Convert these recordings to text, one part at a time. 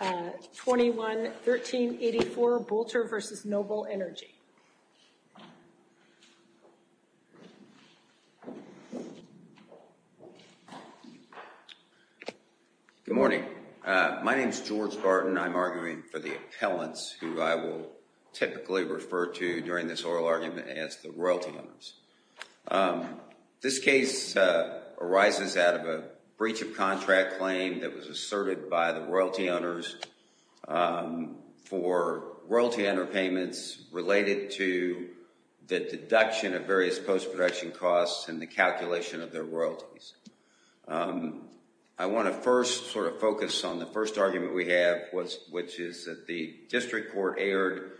21-1384, Boulter v. Noble Energy. Good morning. My name is George Barton. I'm arguing for the appellants who I will typically refer to during this oral argument as the royalty owners. This case arises out of a breach of contract claim that was asserted by the royalty owners for royalty owner payments related to the deduction of various post-production costs and the calculation of their royalties. I want to first sort of focus on the first argument we have which is that the district court erred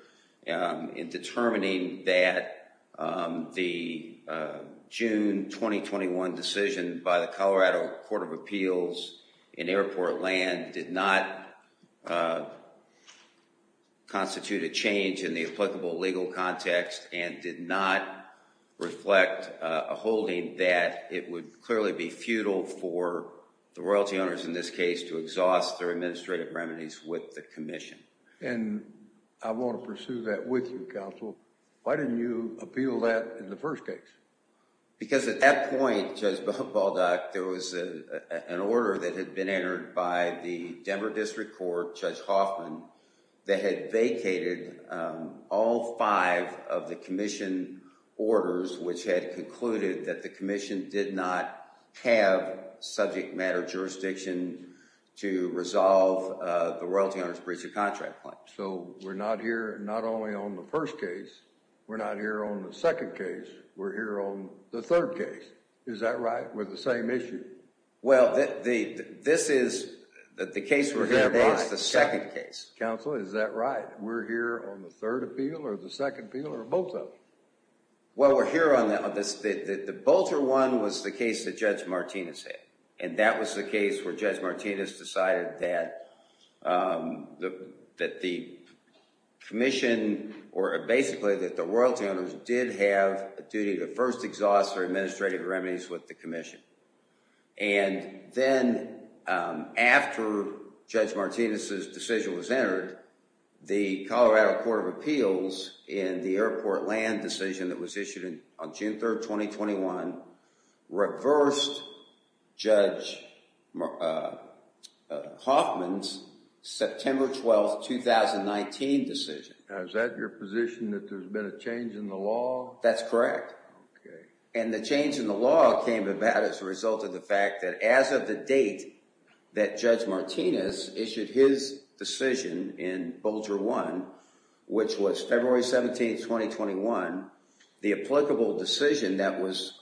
in determining that the June 2021 decision by the Colorado Court of Appeals in airport land did not constitute a change in the applicable legal context and did not reflect a holding that it would clearly be futile for the royalty owners in this case to exhaust their administrative remedies with the commission. And I want to pursue that with you, counsel. Why didn't you appeal that in the first case? Because at that point, Judge Baldock, there was an order that had been entered by the Denver District Court, Judge Hoffman, that had vacated all five of the commission orders which had concluded that the to resolve the royalty owners breach of contract claim. So we're not here not only on the first case, we're not here on the second case, we're here on the third case. Is that right? We're the same issue? Well, this is the case we're here on is the second case. Counsel, is that right? We're here on the third appeal or the second appeal or both of them? Well, we're here on the both or one was the case that Judge Martinez had. And that was the case where Judge Martinez decided that the commission or basically that the royalty owners did have a duty to first exhaust their administrative remedies with the commission. And then after Judge Martinez's decision was entered, the Colorado Court of Appeals in the airport land decision that was 23rd, 2021, reversed Judge Hoffman's September 12th, 2019 decision. Is that your position that there's been a change in the law? That's correct. And the change in the law came about as a result of the fact that as of the date that Judge Martinez issued his decision in Bolger 1, which was February 17th, 2021, the applicable decision that was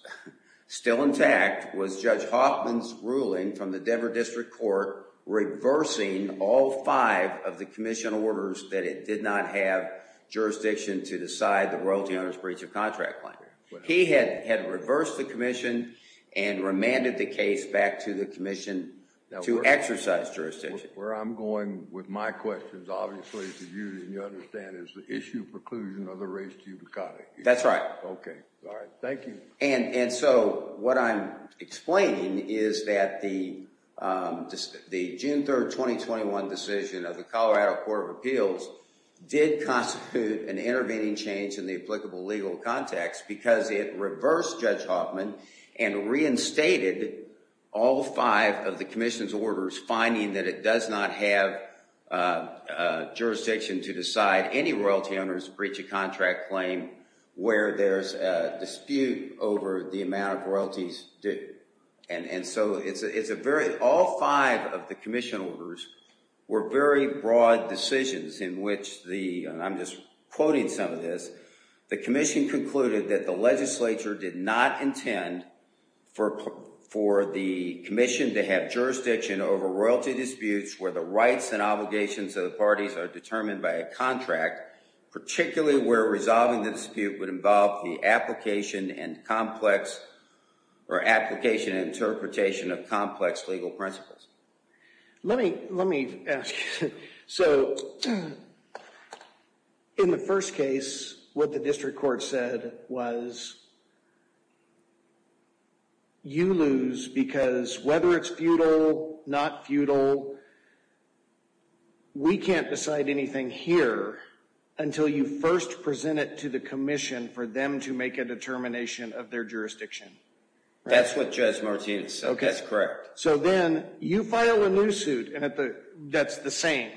still intact was Judge Hoffman's ruling from the Denver District Court reversing all five of the commission orders that it did not have jurisdiction to decide the royalty owners breach of contract plan. He had reversed the commission and remanded the case back to the commission to exercise jurisdiction. Where I'm going with my questions, obviously, to you, and you understand, is the issue preclusion of the race to cut it. That's right. Okay. All right. Thank you. And so what I'm explaining is that the June 3rd, 2021 decision of the Colorado Court of Appeals did constitute an intervening change in the applicable legal context because it reversed Judge Hoffman and reinstated all five of the commission's orders finding that it does not have jurisdiction to decide any royalty owners breach of contract claim where there's a dispute over the amount of royalties due. And so it's a very, all five of the commission orders were very broad decisions in which the, and I'm just quoting some of this, the commission concluded that the legislature did not intend for the commission to have jurisdiction over royalty disputes where the rights and obligations of the parties are determined by a contract, particularly where resolving the dispute would involve the application and complex or application and interpretation of complex legal principles. Let me, let me ask. So in the first case, what the district court said was you lose because whether it's futile, not futile, we can't decide anything here until you first present it to the commission for them to make a determination of their jurisdiction. That's what Judge Martinez said. Okay. That's correct. So then you file a new suit and at the, that's the same.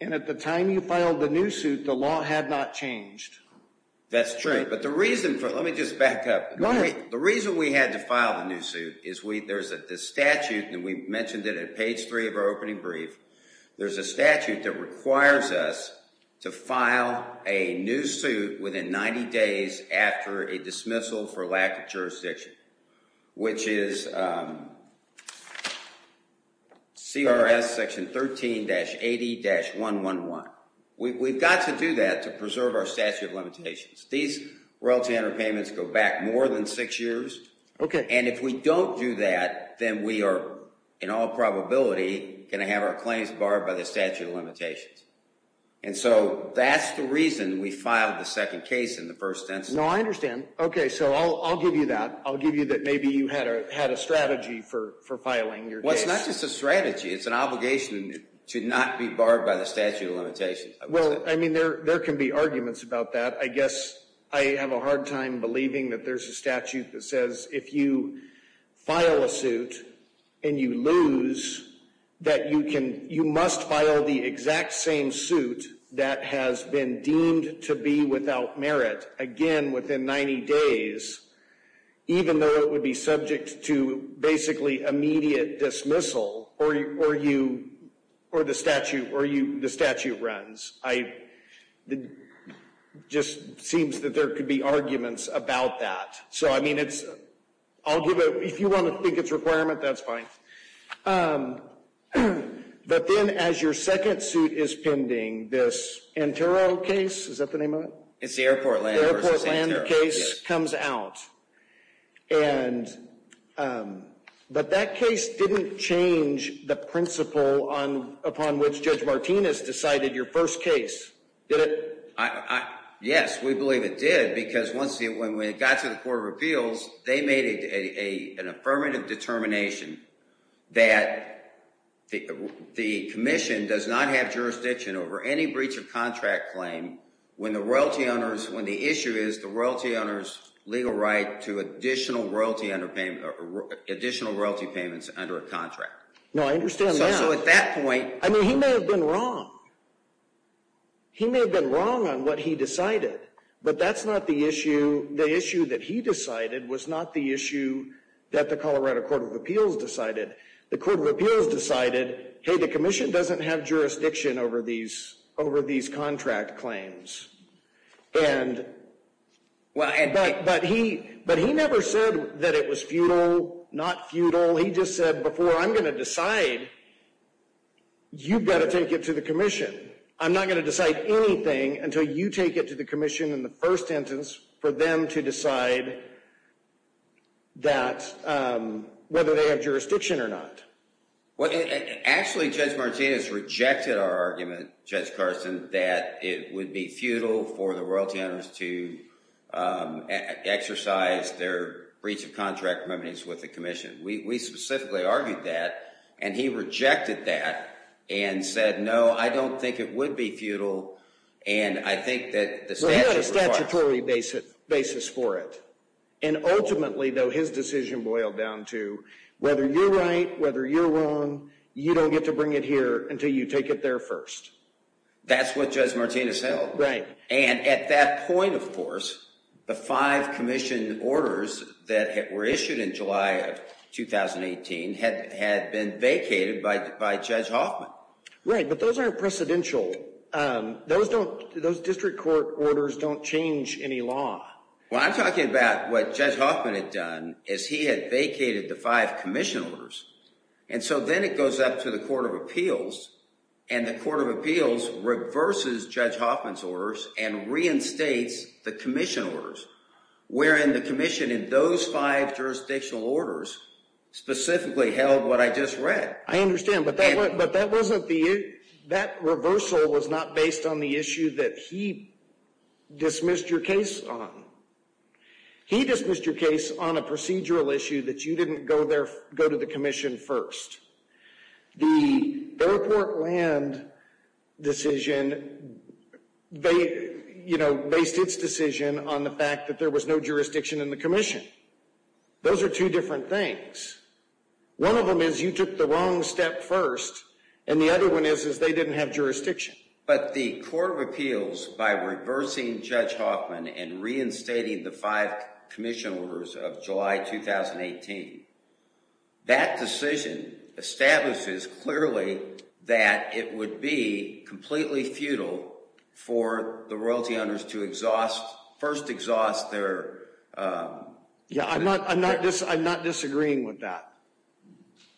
And at the time you filed the new suit, the law had not changed. That's true. But the reason for, let me just back up. The reason we had to file the new suit is we, there's a statute and we mentioned it at page three of our opening brief. There's a statute that requires us to file a new suit within 90 days after a dismissal for lack of jurisdiction, which is CRS section 13-80-111. We've got to do that to preserve our statute of limitations. These royalty underpayments go back more than six years. Okay. And if we don't do that, then we are in all probability going to have our claims barred by the statute of limitations. And so that's the reason we filed the second case in the first instance. No, I understand. Okay. So I'll, I'll give you that. I'll give you that. Maybe you had a, had a strategy for, for filing your case. Well, it's not just a strategy. It's an obligation to not be barred by the statute of limitations. Well, I mean, there, there can be arguments about that. I guess I have a hard time believing that there's a statute that says if you file a suit and you lose that you can, you must file the exact same suit that has been deemed to be without merit again within 90 days, even though it would be subject to basically immediate dismissal or, or you, or the statute, or you, the statute runs. I, it just seems that there could be arguments about that. So, I mean, it's, I'll give it, if you want to think it's a requirement, that's fine. But then as your second suit is pending, this Antero case, is that the name of it? It's the airport land versus Antero. The airport land case comes out. And, but that case didn't change the principle on, upon which Judge Martinez decided your first case, did it? I, I, yes, we believe it did because once the, when we got to the court of appeals, they made a, a, an affirmative determination that the, the commission does not have jurisdiction over any breach of contract claim when the royalty owner's, when the issue is the royalty owner's legal right to additional royalty under payment, additional royalty payments under a contract. No, I understand that. So, so at that point. I mean, he may have been wrong. He may have been wrong on what he decided, but that's not the issue. The issue that he decided was not the issue that the Colorado court of appeals decided. The court of appeals decided, hey, the commission doesn't have jurisdiction over these, over these contract claims. And, well, but he, but he never said that it was futile, not futile. He just said before I'm going to decide, you've got to take it to the commission. I'm not going to decide anything until you take it to the commission in the first sentence for them to decide that whether they have jurisdiction or not. Well, actually, Judge Martinez rejected our argument, Judge Carson, that it would be futile for the royalty owners to exercise their breach of contract remedies with the commission. We specifically argued that and he rejected that and said, no, I don't think it would be futile. And I think that the statutory basis for it. And ultimately, though, his decision boiled down to whether you're right, whether you're wrong, you don't get to bring it here until you take it there first. That's what Judge Martinez held. Right. And at that point, of course, the five commission orders that were issued in July of 2018 had been vacated by Judge Hoffman. Right. But those aren't precedential. Those don't, those district court orders don't change any law. Well, I'm talking about what Judge Hoffman had done is he had vacated the five commission orders. And so then it goes up to the Court of Appeals and the Court of Appeals reverses Judge Hoffman's orders and reinstates the commission orders, wherein the commission in those five jurisdictional orders specifically held what I just read. I understand. But that wasn't the, that reversal was not based on the issue that he dismissed your case on. He dismissed your case on a procedural issue that you didn't go there, go to the commission first. The airport land decision, they, you know, based its decision on the fact that there was no jurisdiction in the commission. Those are two different things. One of them is you took the wrong step first. And the other one is, is they didn't have jurisdiction. But the Court of Appeals, by reversing Judge Hoffman and reinstating the five commission orders of July 2018, that decision establishes clearly that it would be completely futile for the royalty owners to exhaust, first exhaust their... Yeah, I'm not, I'm not, I'm not disagreeing with that.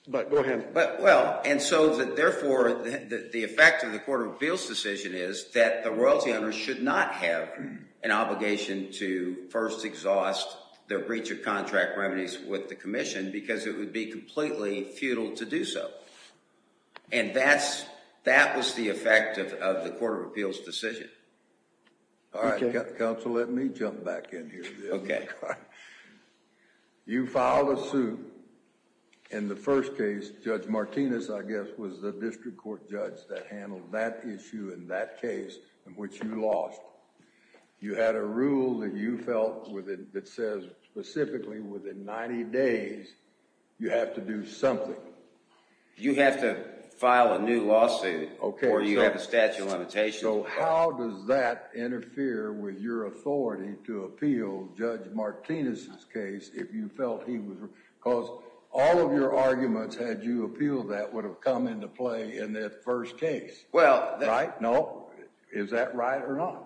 But go ahead. But well, and so that therefore the effect of the Court of Appeals decision is that the royalty owners should not have an obligation to first exhaust their breach of contract remedies with the commission because it would be completely futile to do so. And that's, that was the effect of the Court of Appeals decision. All right, counsel, let me jump back in here. Okay. You filed a suit. In the first case, Judge Martinez, I guess, was the district court judge that handled that issue in that case in which you lost. You had a rule that you felt within, that says specifically within 90 days, you have to do something. You have to file a new lawsuit. Okay. Or you have a statute of limitations. So how does that interfere with your authority to appeal Judge Martinez's case if you felt he was... Because all of your arguments had you appealed that would have come into play in that first case. Well... Right? No? Is that right or not?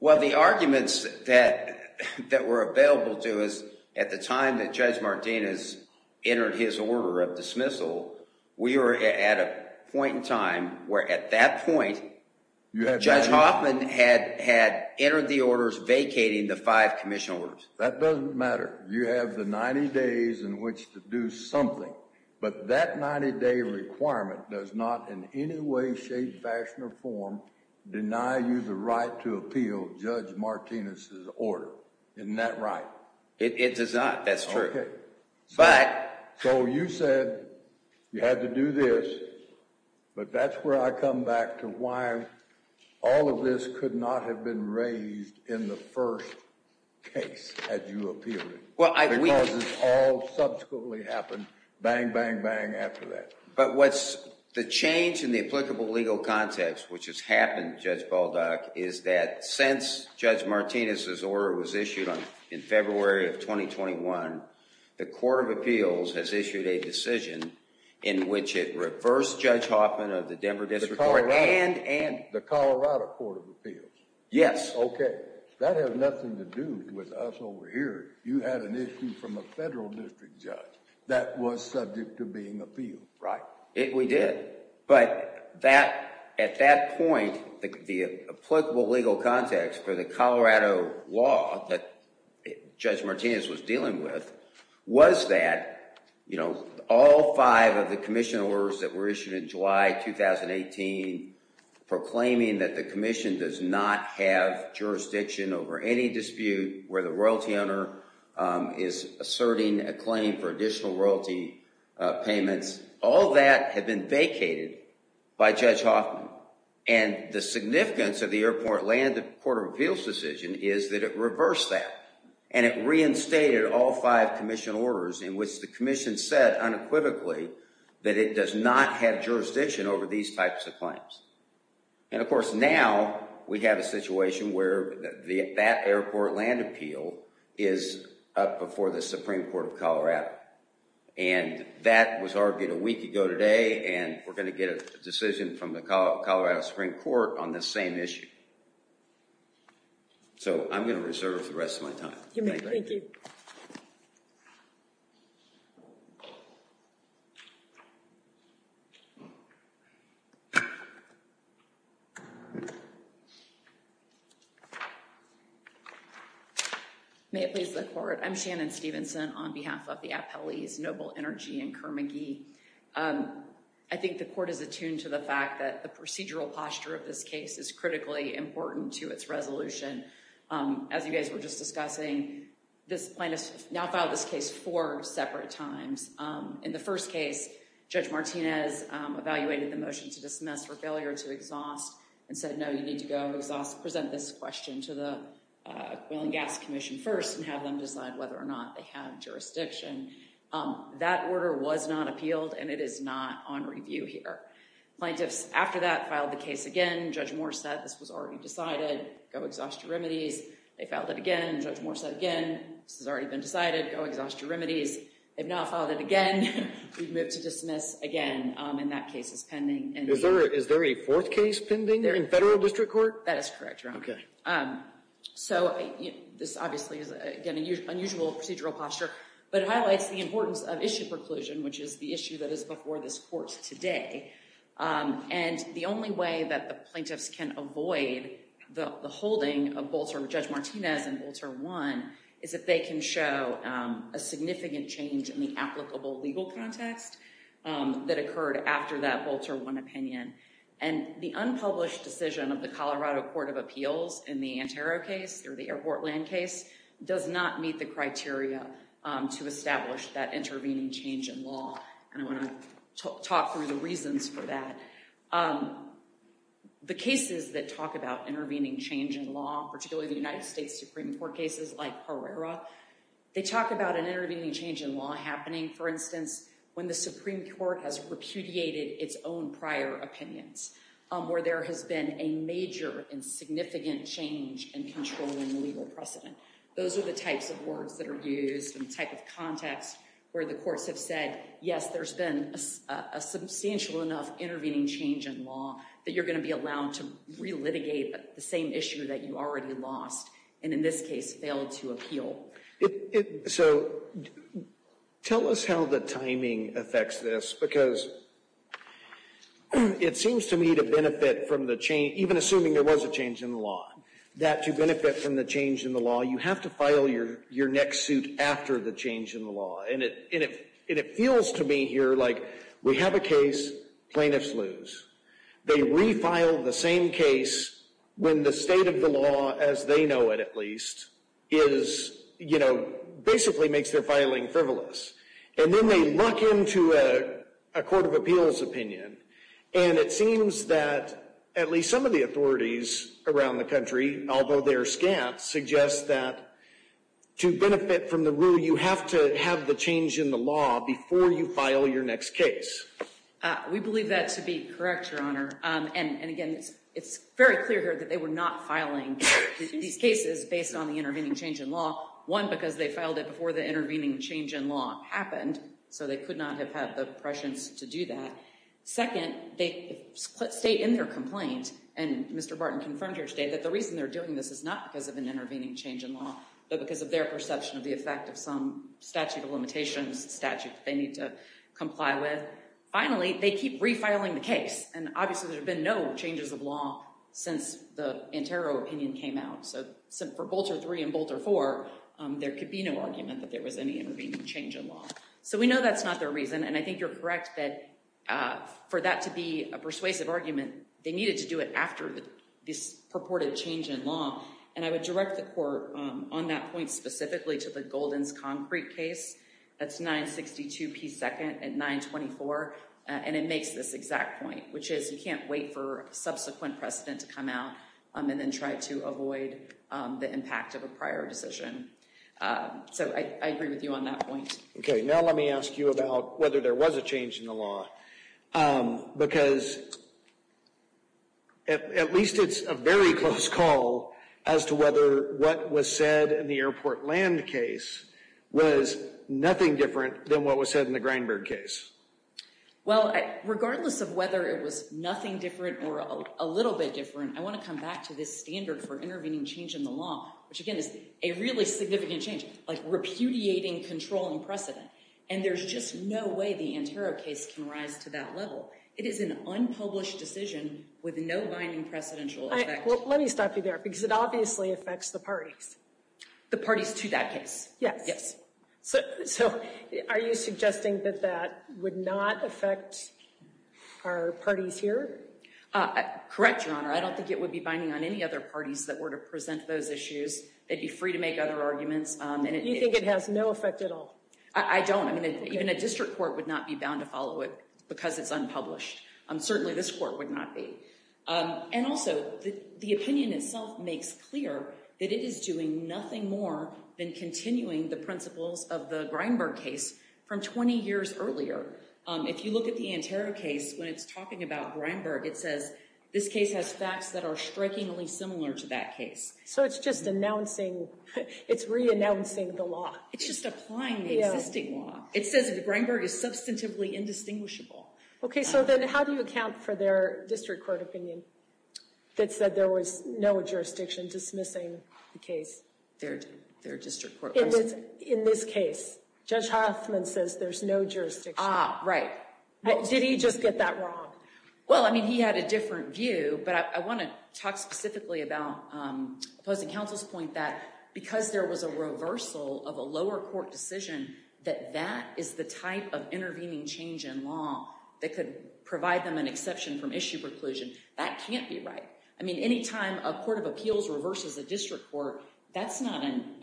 Well, the arguments that, that were available to us at the time that Judge Martinez entered his order of dismissal, we were at a point in time where at that point, Judge Hoffman had, entered the orders vacating the five commission orders. That doesn't matter. You have the 90 days in which to do something. But that 90 day requirement does not in any way, shape, fashion, or form deny you the right to appeal Judge Martinez's order. Isn't that right? It does not. That's true. Okay. But... So you said you had to do this, but that's where I come back to why all of this could not have been raised in the first case had you appealed it. Because it all subsequently happened bang, bang, bang after that. But what's the change in the applicable legal context, which has happened Judge Baldock, is that since Judge Martinez's order was issued in February of 2021, the court of appeals has issued a decision in which it reversed Judge Martinez's order. Yes. Okay. That has nothing to do with us over here. You had an issue from a federal district judge that was subject to being appealed. Right. We did. But that, at that point, the applicable legal context for the Colorado law that Judge Martinez was dealing with was that, you know, all five of the commission orders that were issued in July 2018 proclaiming that the commission does not have jurisdiction over any dispute where the royalty owner is asserting a claim for additional royalty payments, all that had been vacated by Judge Hoffman. And the significance of the airport land, the court of appeals decision, is that it reversed that. And it reinstated all five commission orders in which the commission said unequivocally that it does not have jurisdiction over these types of claims. And of course, now we have a situation where that airport land appeal is up before the Supreme Court of Colorado. And that was argued a week ago today, and we're going to get a decision from the Colorado Supreme Court on this same issue. So I'm going to reserve the rest of my time. May it please the court. I'm Shannon Stevenson on behalf of the appellees Noble Energy and Kerr McGee. I think the court is attuned to the fact that the procedural posture of this case is critically important to its resolution. As you guys were just discussing, this plaintiff has filed this case four separate times. In the first case, Judge Martinez evaluated the motion to dismiss for failure to exhaust and said, no, you need to go exhaust, present this question to the Oil and Gas Commission first and have them decide whether or not they have jurisdiction. That order was not appealed, and it is not on review here. Plaintiffs after that filed the case again. Judge Moore said this was already decided. Go exhaust your remedies. They filed it again. Judge Moore said again, this has already been decided. Go exhaust your remedies. They've now filed it again. We've moved to dismiss again. And that case is pending. Is there a fourth case pending in federal district court? That is correct, Your Honor. So this obviously is, again, an unusual procedural posture, but it highlights the importance of issue preclusion, which is the issue that is before this court today. And the only way that the plaintiffs can avoid the holding of Bolzer Martinez and Bolzer 1 is if they can show a significant change in the applicable legal context that occurred after that Bolzer 1 opinion. And the unpublished decision of the Colorado Court of Appeals in the Antero case or the Airportland case does not meet the criteria to establish that intervening change in law. And I want to talk through the reasons for that. The cases that talk about intervening change in law, particularly the United States Supreme Court cases like Herrera, they talk about an intervening change in law happening, for instance, when the Supreme Court has repudiated its own prior opinions, where there has been a major and significant change in controlling the legal precedent. Those are the types of words that are used and the type of context where the courts have said, yes, there's been a substantial enough intervening change in law that you're going to be allowed to re-litigate the same issue that you already lost, and in this case, failed to appeal. So tell us how the timing affects this, because it seems to me to benefit from the change, even assuming there was a change in the law, that to benefit from the change in the law, you have to file your next suit after the change in And it feels to me here like we have a case, plaintiffs lose. They re-file the same case when the state of the law, as they know it at least, is, you know, basically makes their filing frivolous. And then they luck into a court of appeals opinion, and it seems that at least some of the authorities around the country, although they're scant, suggest that to benefit from the change in the law before you file your next case. We believe that to be correct, Your Honor. And again, it's very clear here that they were not filing these cases based on the intervening change in law. One, because they filed it before the intervening change in law happened, so they could not have had the prescience to do that. Second, they state in their complaint, and Mr. Barton confirmed here today, that the reason they're doing this is not because of an intervening change in law, but because of their perception of the effect of some statute of limitations, a statute they need to comply with. Finally, they keep re-filing the case, and obviously there have been no changes of law since the Antero opinion came out. So for Bolter 3 and Bolter 4, there could be no argument that there was any intervening change in law. So we know that's not their reason, and I think you're correct that for that to be a persuasive argument, they needed to do it after this purported change in law. And I would direct the court on that point specifically to the Golden's Concrete case. That's 962p2 at 924, and it makes this exact point, which is you can't wait for a subsequent precedent to come out, and then try to avoid the impact of a prior decision. So I agree with you on that point. Okay, now let me ask you about whether there was a change in the law, because at least it's a very close call as to whether what was said in the Airport Land case was nothing different than what was said in the Grindberg case. Well, regardless of whether it was nothing different or a little bit different, I want to come back to this standard for intervening change in the law, which again is a really significant change, like repudiating control and precedent. And there's just no way the Antero case can rise to that level. It is an unpublished decision with no binding precedential effect. Well, let me stop you there, because it obviously affects the parties. The parties to that case? Yes. So are you suggesting that that would not affect our parties here? Correct, Your Honor. I don't think it would be binding on any other parties that were to present those issues. They'd be free to make other arguments. You think it has no effect at all? I don't. I mean, even a district court would not be bound to follow it because it's unpublished. Certainly, this court would not be. And also, the opinion itself makes clear that it is doing nothing more than continuing the principles of the Grindberg case from 20 years earlier. If you look at the Antero case, when it's talking about Grindberg, it says this case has facts that are strikingly similar to that case. So it's just announcing, it's re-announcing the law. It's just applying the existing law. It says that Grindberg is indistinguishable. Okay, so then how do you account for their district court opinion that said there was no jurisdiction dismissing the case? Their district court? In this case, Judge Hoffman says there's no jurisdiction. Ah, right. Did he just get that wrong? Well, I mean, he had a different view, but I want to talk specifically about opposing counsel's point that because there was a reversal of a lower court decision, that that is the type of intervening change in law that could provide them an exception from issue preclusion. That can't be right. I mean, any time a court of appeals reverses a district court, that's not an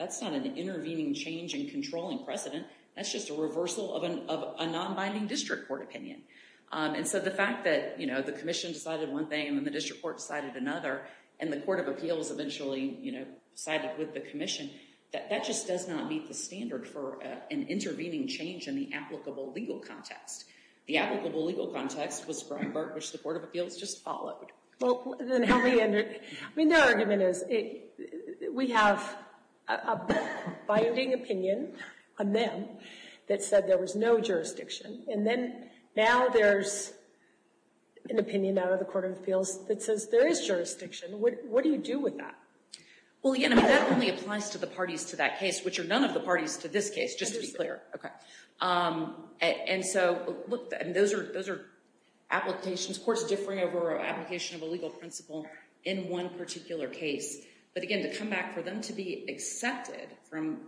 intervening change in controlling precedent. That's just a reversal of a non-binding district court opinion. And so, the fact that the commission decided one thing and then the district court decided another, and the court of appeals eventually, you know, sided with the commission, that that just does not meet the standard for an intervening change in the applicable legal context. The applicable legal context was Grindberg, which the court of appeals just followed. Well, then how do you... I mean, their argument is we have a binding opinion on them that said there was no jurisdiction, and then now there's an opinion out of the court of appeals that says there is jurisdiction. What do you do with that? Well, again, I mean, that only applies to the parties to that case, which are none of the parties to this case, just to be clear. Okay. And so, look, those are applications, courts differing over an application of a legal principle in one particular case. But again, to come back for them to be accepted from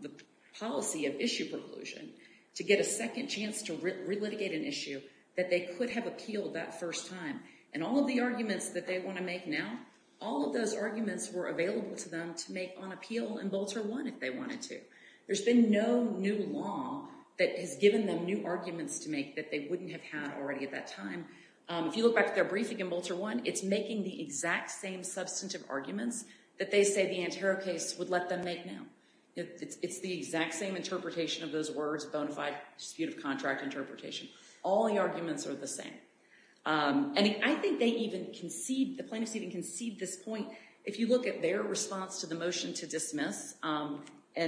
the policy of issue preclusion, to get a second chance to re-litigate an issue that they could have appealed that first time, and all of the arguments that they want to make now, all of those arguments were available to them to make on appeal in Bolter 1 if they wanted to. There's been no new law that has given them new arguments to make that they wouldn't have had already at that time. If you look back to their briefing in Bolter 1, it's making the exact same substantive arguments that they say the Antero case would let them make now. It's the exact same interpretation of those words, bona fide dispute of contract interpretation. All the arguments are the same. And I think they even concede, the plaintiffs even concede this point. If you look at their response to the motion to dismiss, and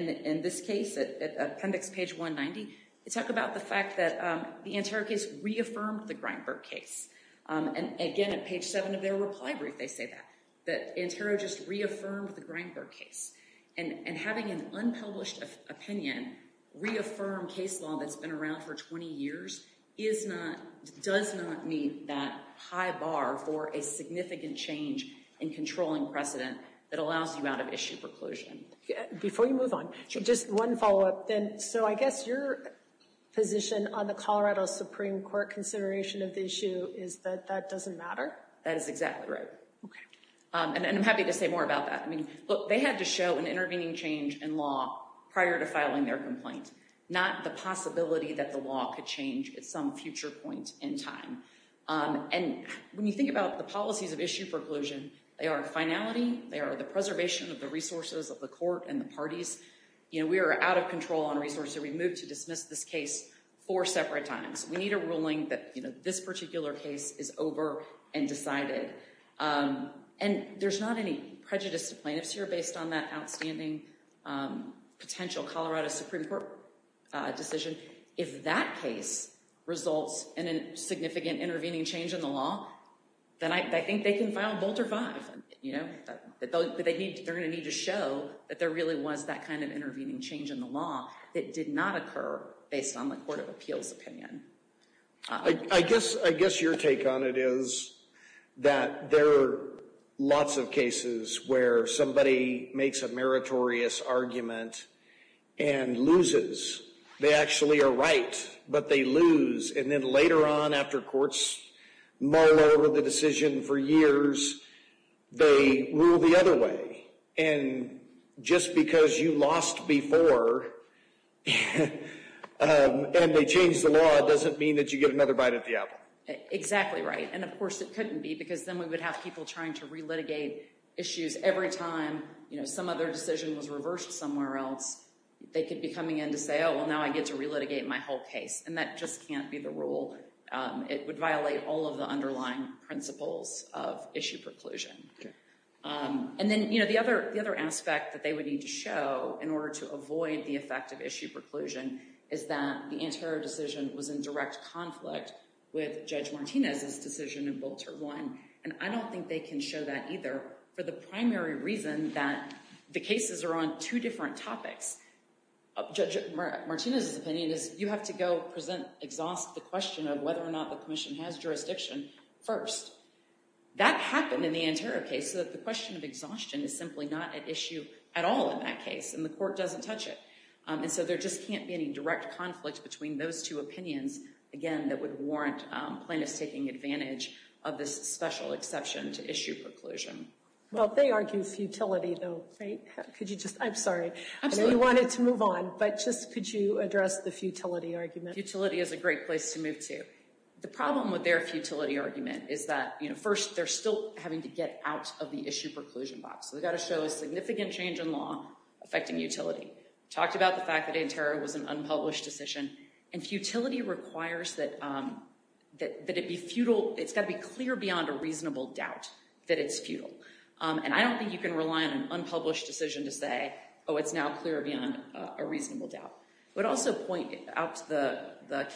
in this case, at appendix page 190, they talk about the fact that the Antero case reaffirmed the Greinberg case. And again, at page seven of their reply brief, they say that, that Antero just reaffirmed the Greinberg case. And having an unpublished opinion reaffirm case law that's been around for 20 years is not, does not meet that high bar for a significant change in controlling precedent that allows you out of issue preclusion. Before you move on, just one follow-up then. So I guess your position on the Colorado Supreme Court consideration of the issue is that that doesn't matter? That is exactly right. Okay. And I'm happy to say more about that. I mean, look, they had to show an intervening change in law prior to filing their complaint, not the possibility that the law could change at some future point in time. And when you think about the policies of issue preclusion, they are finality, they are the preservation of the resources of the court and the parties. You know, we are out of control on resources. We moved to dismiss this case four separate times. We need a ruling that, you know, this particular case is over and decided. And there's not any prejudice to plaintiffs here based on that outstanding potential Colorado Supreme Court decision. If that case results in a significant intervening change in the law, then I think they can file a Bolter V. You know, but they need, they're going to need to show that there really was that kind of intervening change in the law that did not occur based on the Court of Appeals opinion. I guess your take on it is that there are lots of cases where somebody makes a meritorious argument and loses. They actually are right, but they lose. And then later on after courts mull over the decision for years, they rule the other way. And just because you lost before and they changed the law doesn't mean that you get another bite at the apple. Exactly right. And of course it couldn't be because then we would have people trying to re-litigate issues every time, you know, some other decision was reversed somewhere else. They could be coming in to say, oh, well now I get to re-litigate my whole case. And that just can't be the rule. It would violate all of the underlying principles of issue preclusion. And then, you know, the other aspect that they would need to show in order to avoid the effect of issue preclusion is that the Antero decision was in direct conflict with Judge Martinez's decision in Bolter 1. And I don't think they can show that either for the primary reason that the cases are on two different topics. Judge Martinez's opinion is you have to go present, exhaust the question of whether or not the commission has jurisdiction first. That happened in the Antero case so that the question of exhaustion is simply not at issue at all in that case and the court doesn't touch it. And so there just can't be any direct conflict between those two opinions, again, that would warrant plaintiffs taking advantage of this special exception to issue preclusion. Well, they argue futility though, right? Could you just, I'm sorry, I know you wanted to move on, but just could you address the futility argument? Futility is a great place to move to. The problem with their futility argument is that, you know, first they're still having to get out of the issue preclusion box. So they've got to show a significant change in law affecting utility. Talked about the fact that Antero was an unpublished decision. And futility requires that it be futile, it's got to be clear beyond a reasonable doubt that it's futile. And I don't think you can rely on an unpublished decision to say, oh, it's now clear beyond a reasonable doubt. But also point out the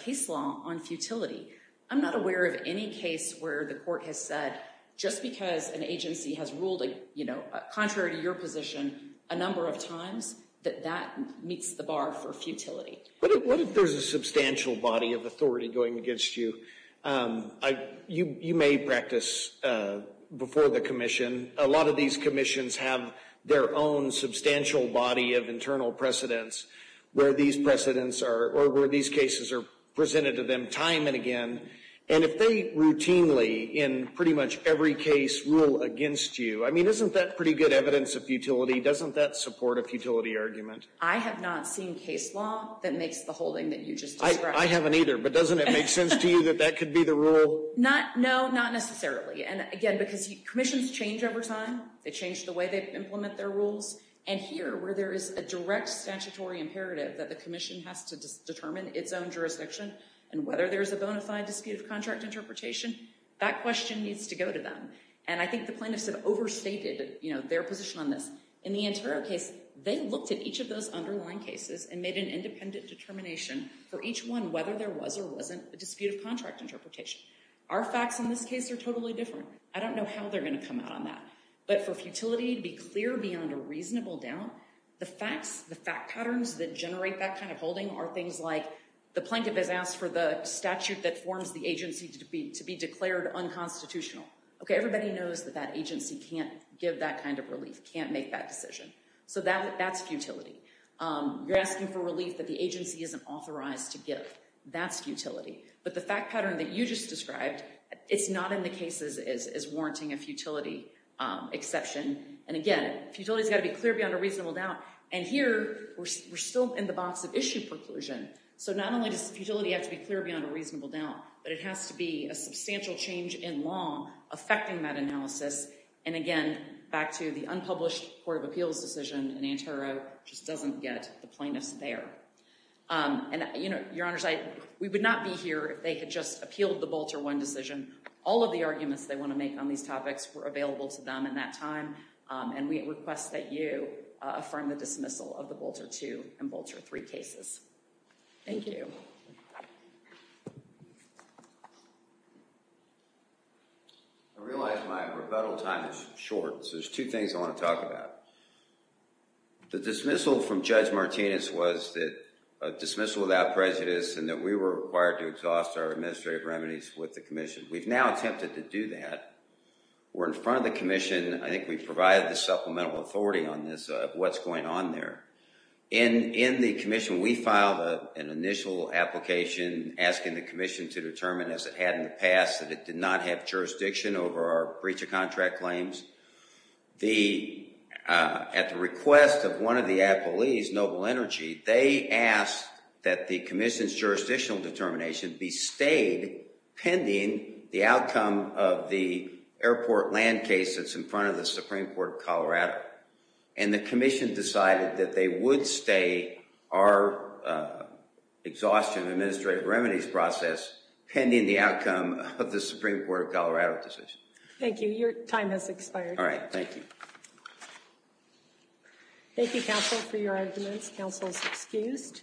case law on futility. I'm not aware of any case where the court has said just because an agency has ruled, you know, contrary to your position a number of times, that that meets the bar for futility. What if there's a substantial body of authority going against you? You may practice before the commission. A lot of these commissions have their own substantial body of internal precedents where these precedents are, or where these cases are presented to them time and again. And if they routinely in pretty much every case rule against you, I mean, isn't that pretty good evidence of futility? Doesn't that support a futility argument? I have not seen case law that makes the holding that you just described. I haven't either, but doesn't it make sense to you that that could be the rule? Not, no, not necessarily. And again, because commissions change over time. They change the way they implement their rules. And here, where there is a direct statutory imperative that the commission has to determine its own jurisdiction, and whether there's a bona fide disputed contract interpretation, that question needs to go to them. And I think the plaintiffs have overstated, you know, their position on this. In the Antero case, they looked at each of those underlying cases and made an independent determination for each one whether there was or wasn't a disputed contract interpretation. Our facts in this case are totally different. I don't know how they're going to come out on that. But for futility to be clear beyond a reasonable doubt, the facts, the fact patterns that generate that kind of holding are things like the plaintiff has asked for the statute that forms the agency to be declared unconstitutional. Okay, everybody knows that that agency can't give that kind of relief, can't make that decision. So that's futility. You're asking for relief that the agency isn't authorized to give. That's futility. But the fact pattern that you just described, it's not in the cases as warranting a futility exception. And again, futility has got to be clear beyond a reasonable doubt. And here, we're still in the box of issue preclusion. So not only does substantial change in law affecting that analysis, and again, back to the unpublished Court of Appeals decision, and Antero just doesn't get the plaintiffs there. And, you know, Your Honors, we would not be here if they had just appealed the Bolter 1 decision. All of the arguments they want to make on these topics were available to them in that time. And we request that you affirm the dismissal of the Bolter 2 and Bolter 3 cases. Thank you. I realize my rebuttal time is short, so there's two things I want to talk about. The dismissal from Judge Martinez was that a dismissal without prejudice and that we were required to exhaust our administrative remedies with the Commission. We've now attempted to do that. We're in front of the Commission. I think we've provided the supplemental authority on this, what's going on there. In the Commission, we filed an initial application asking the Commission to pass that it did not have jurisdiction over our breach of contract claims. At the request of one of the appellees, Noble Energy, they asked that the Commission's jurisdictional determination be stayed pending the outcome of the airport land case that's in front of the Supreme Court of Colorado. And the Commission decided that they would stay our exhaustion of administrative remedies process pending the outcome of the Supreme Court of Colorado decision. Thank you. Your time has expired. All right. Thank you. Thank you, counsel, for your arguments. Counsel is excused.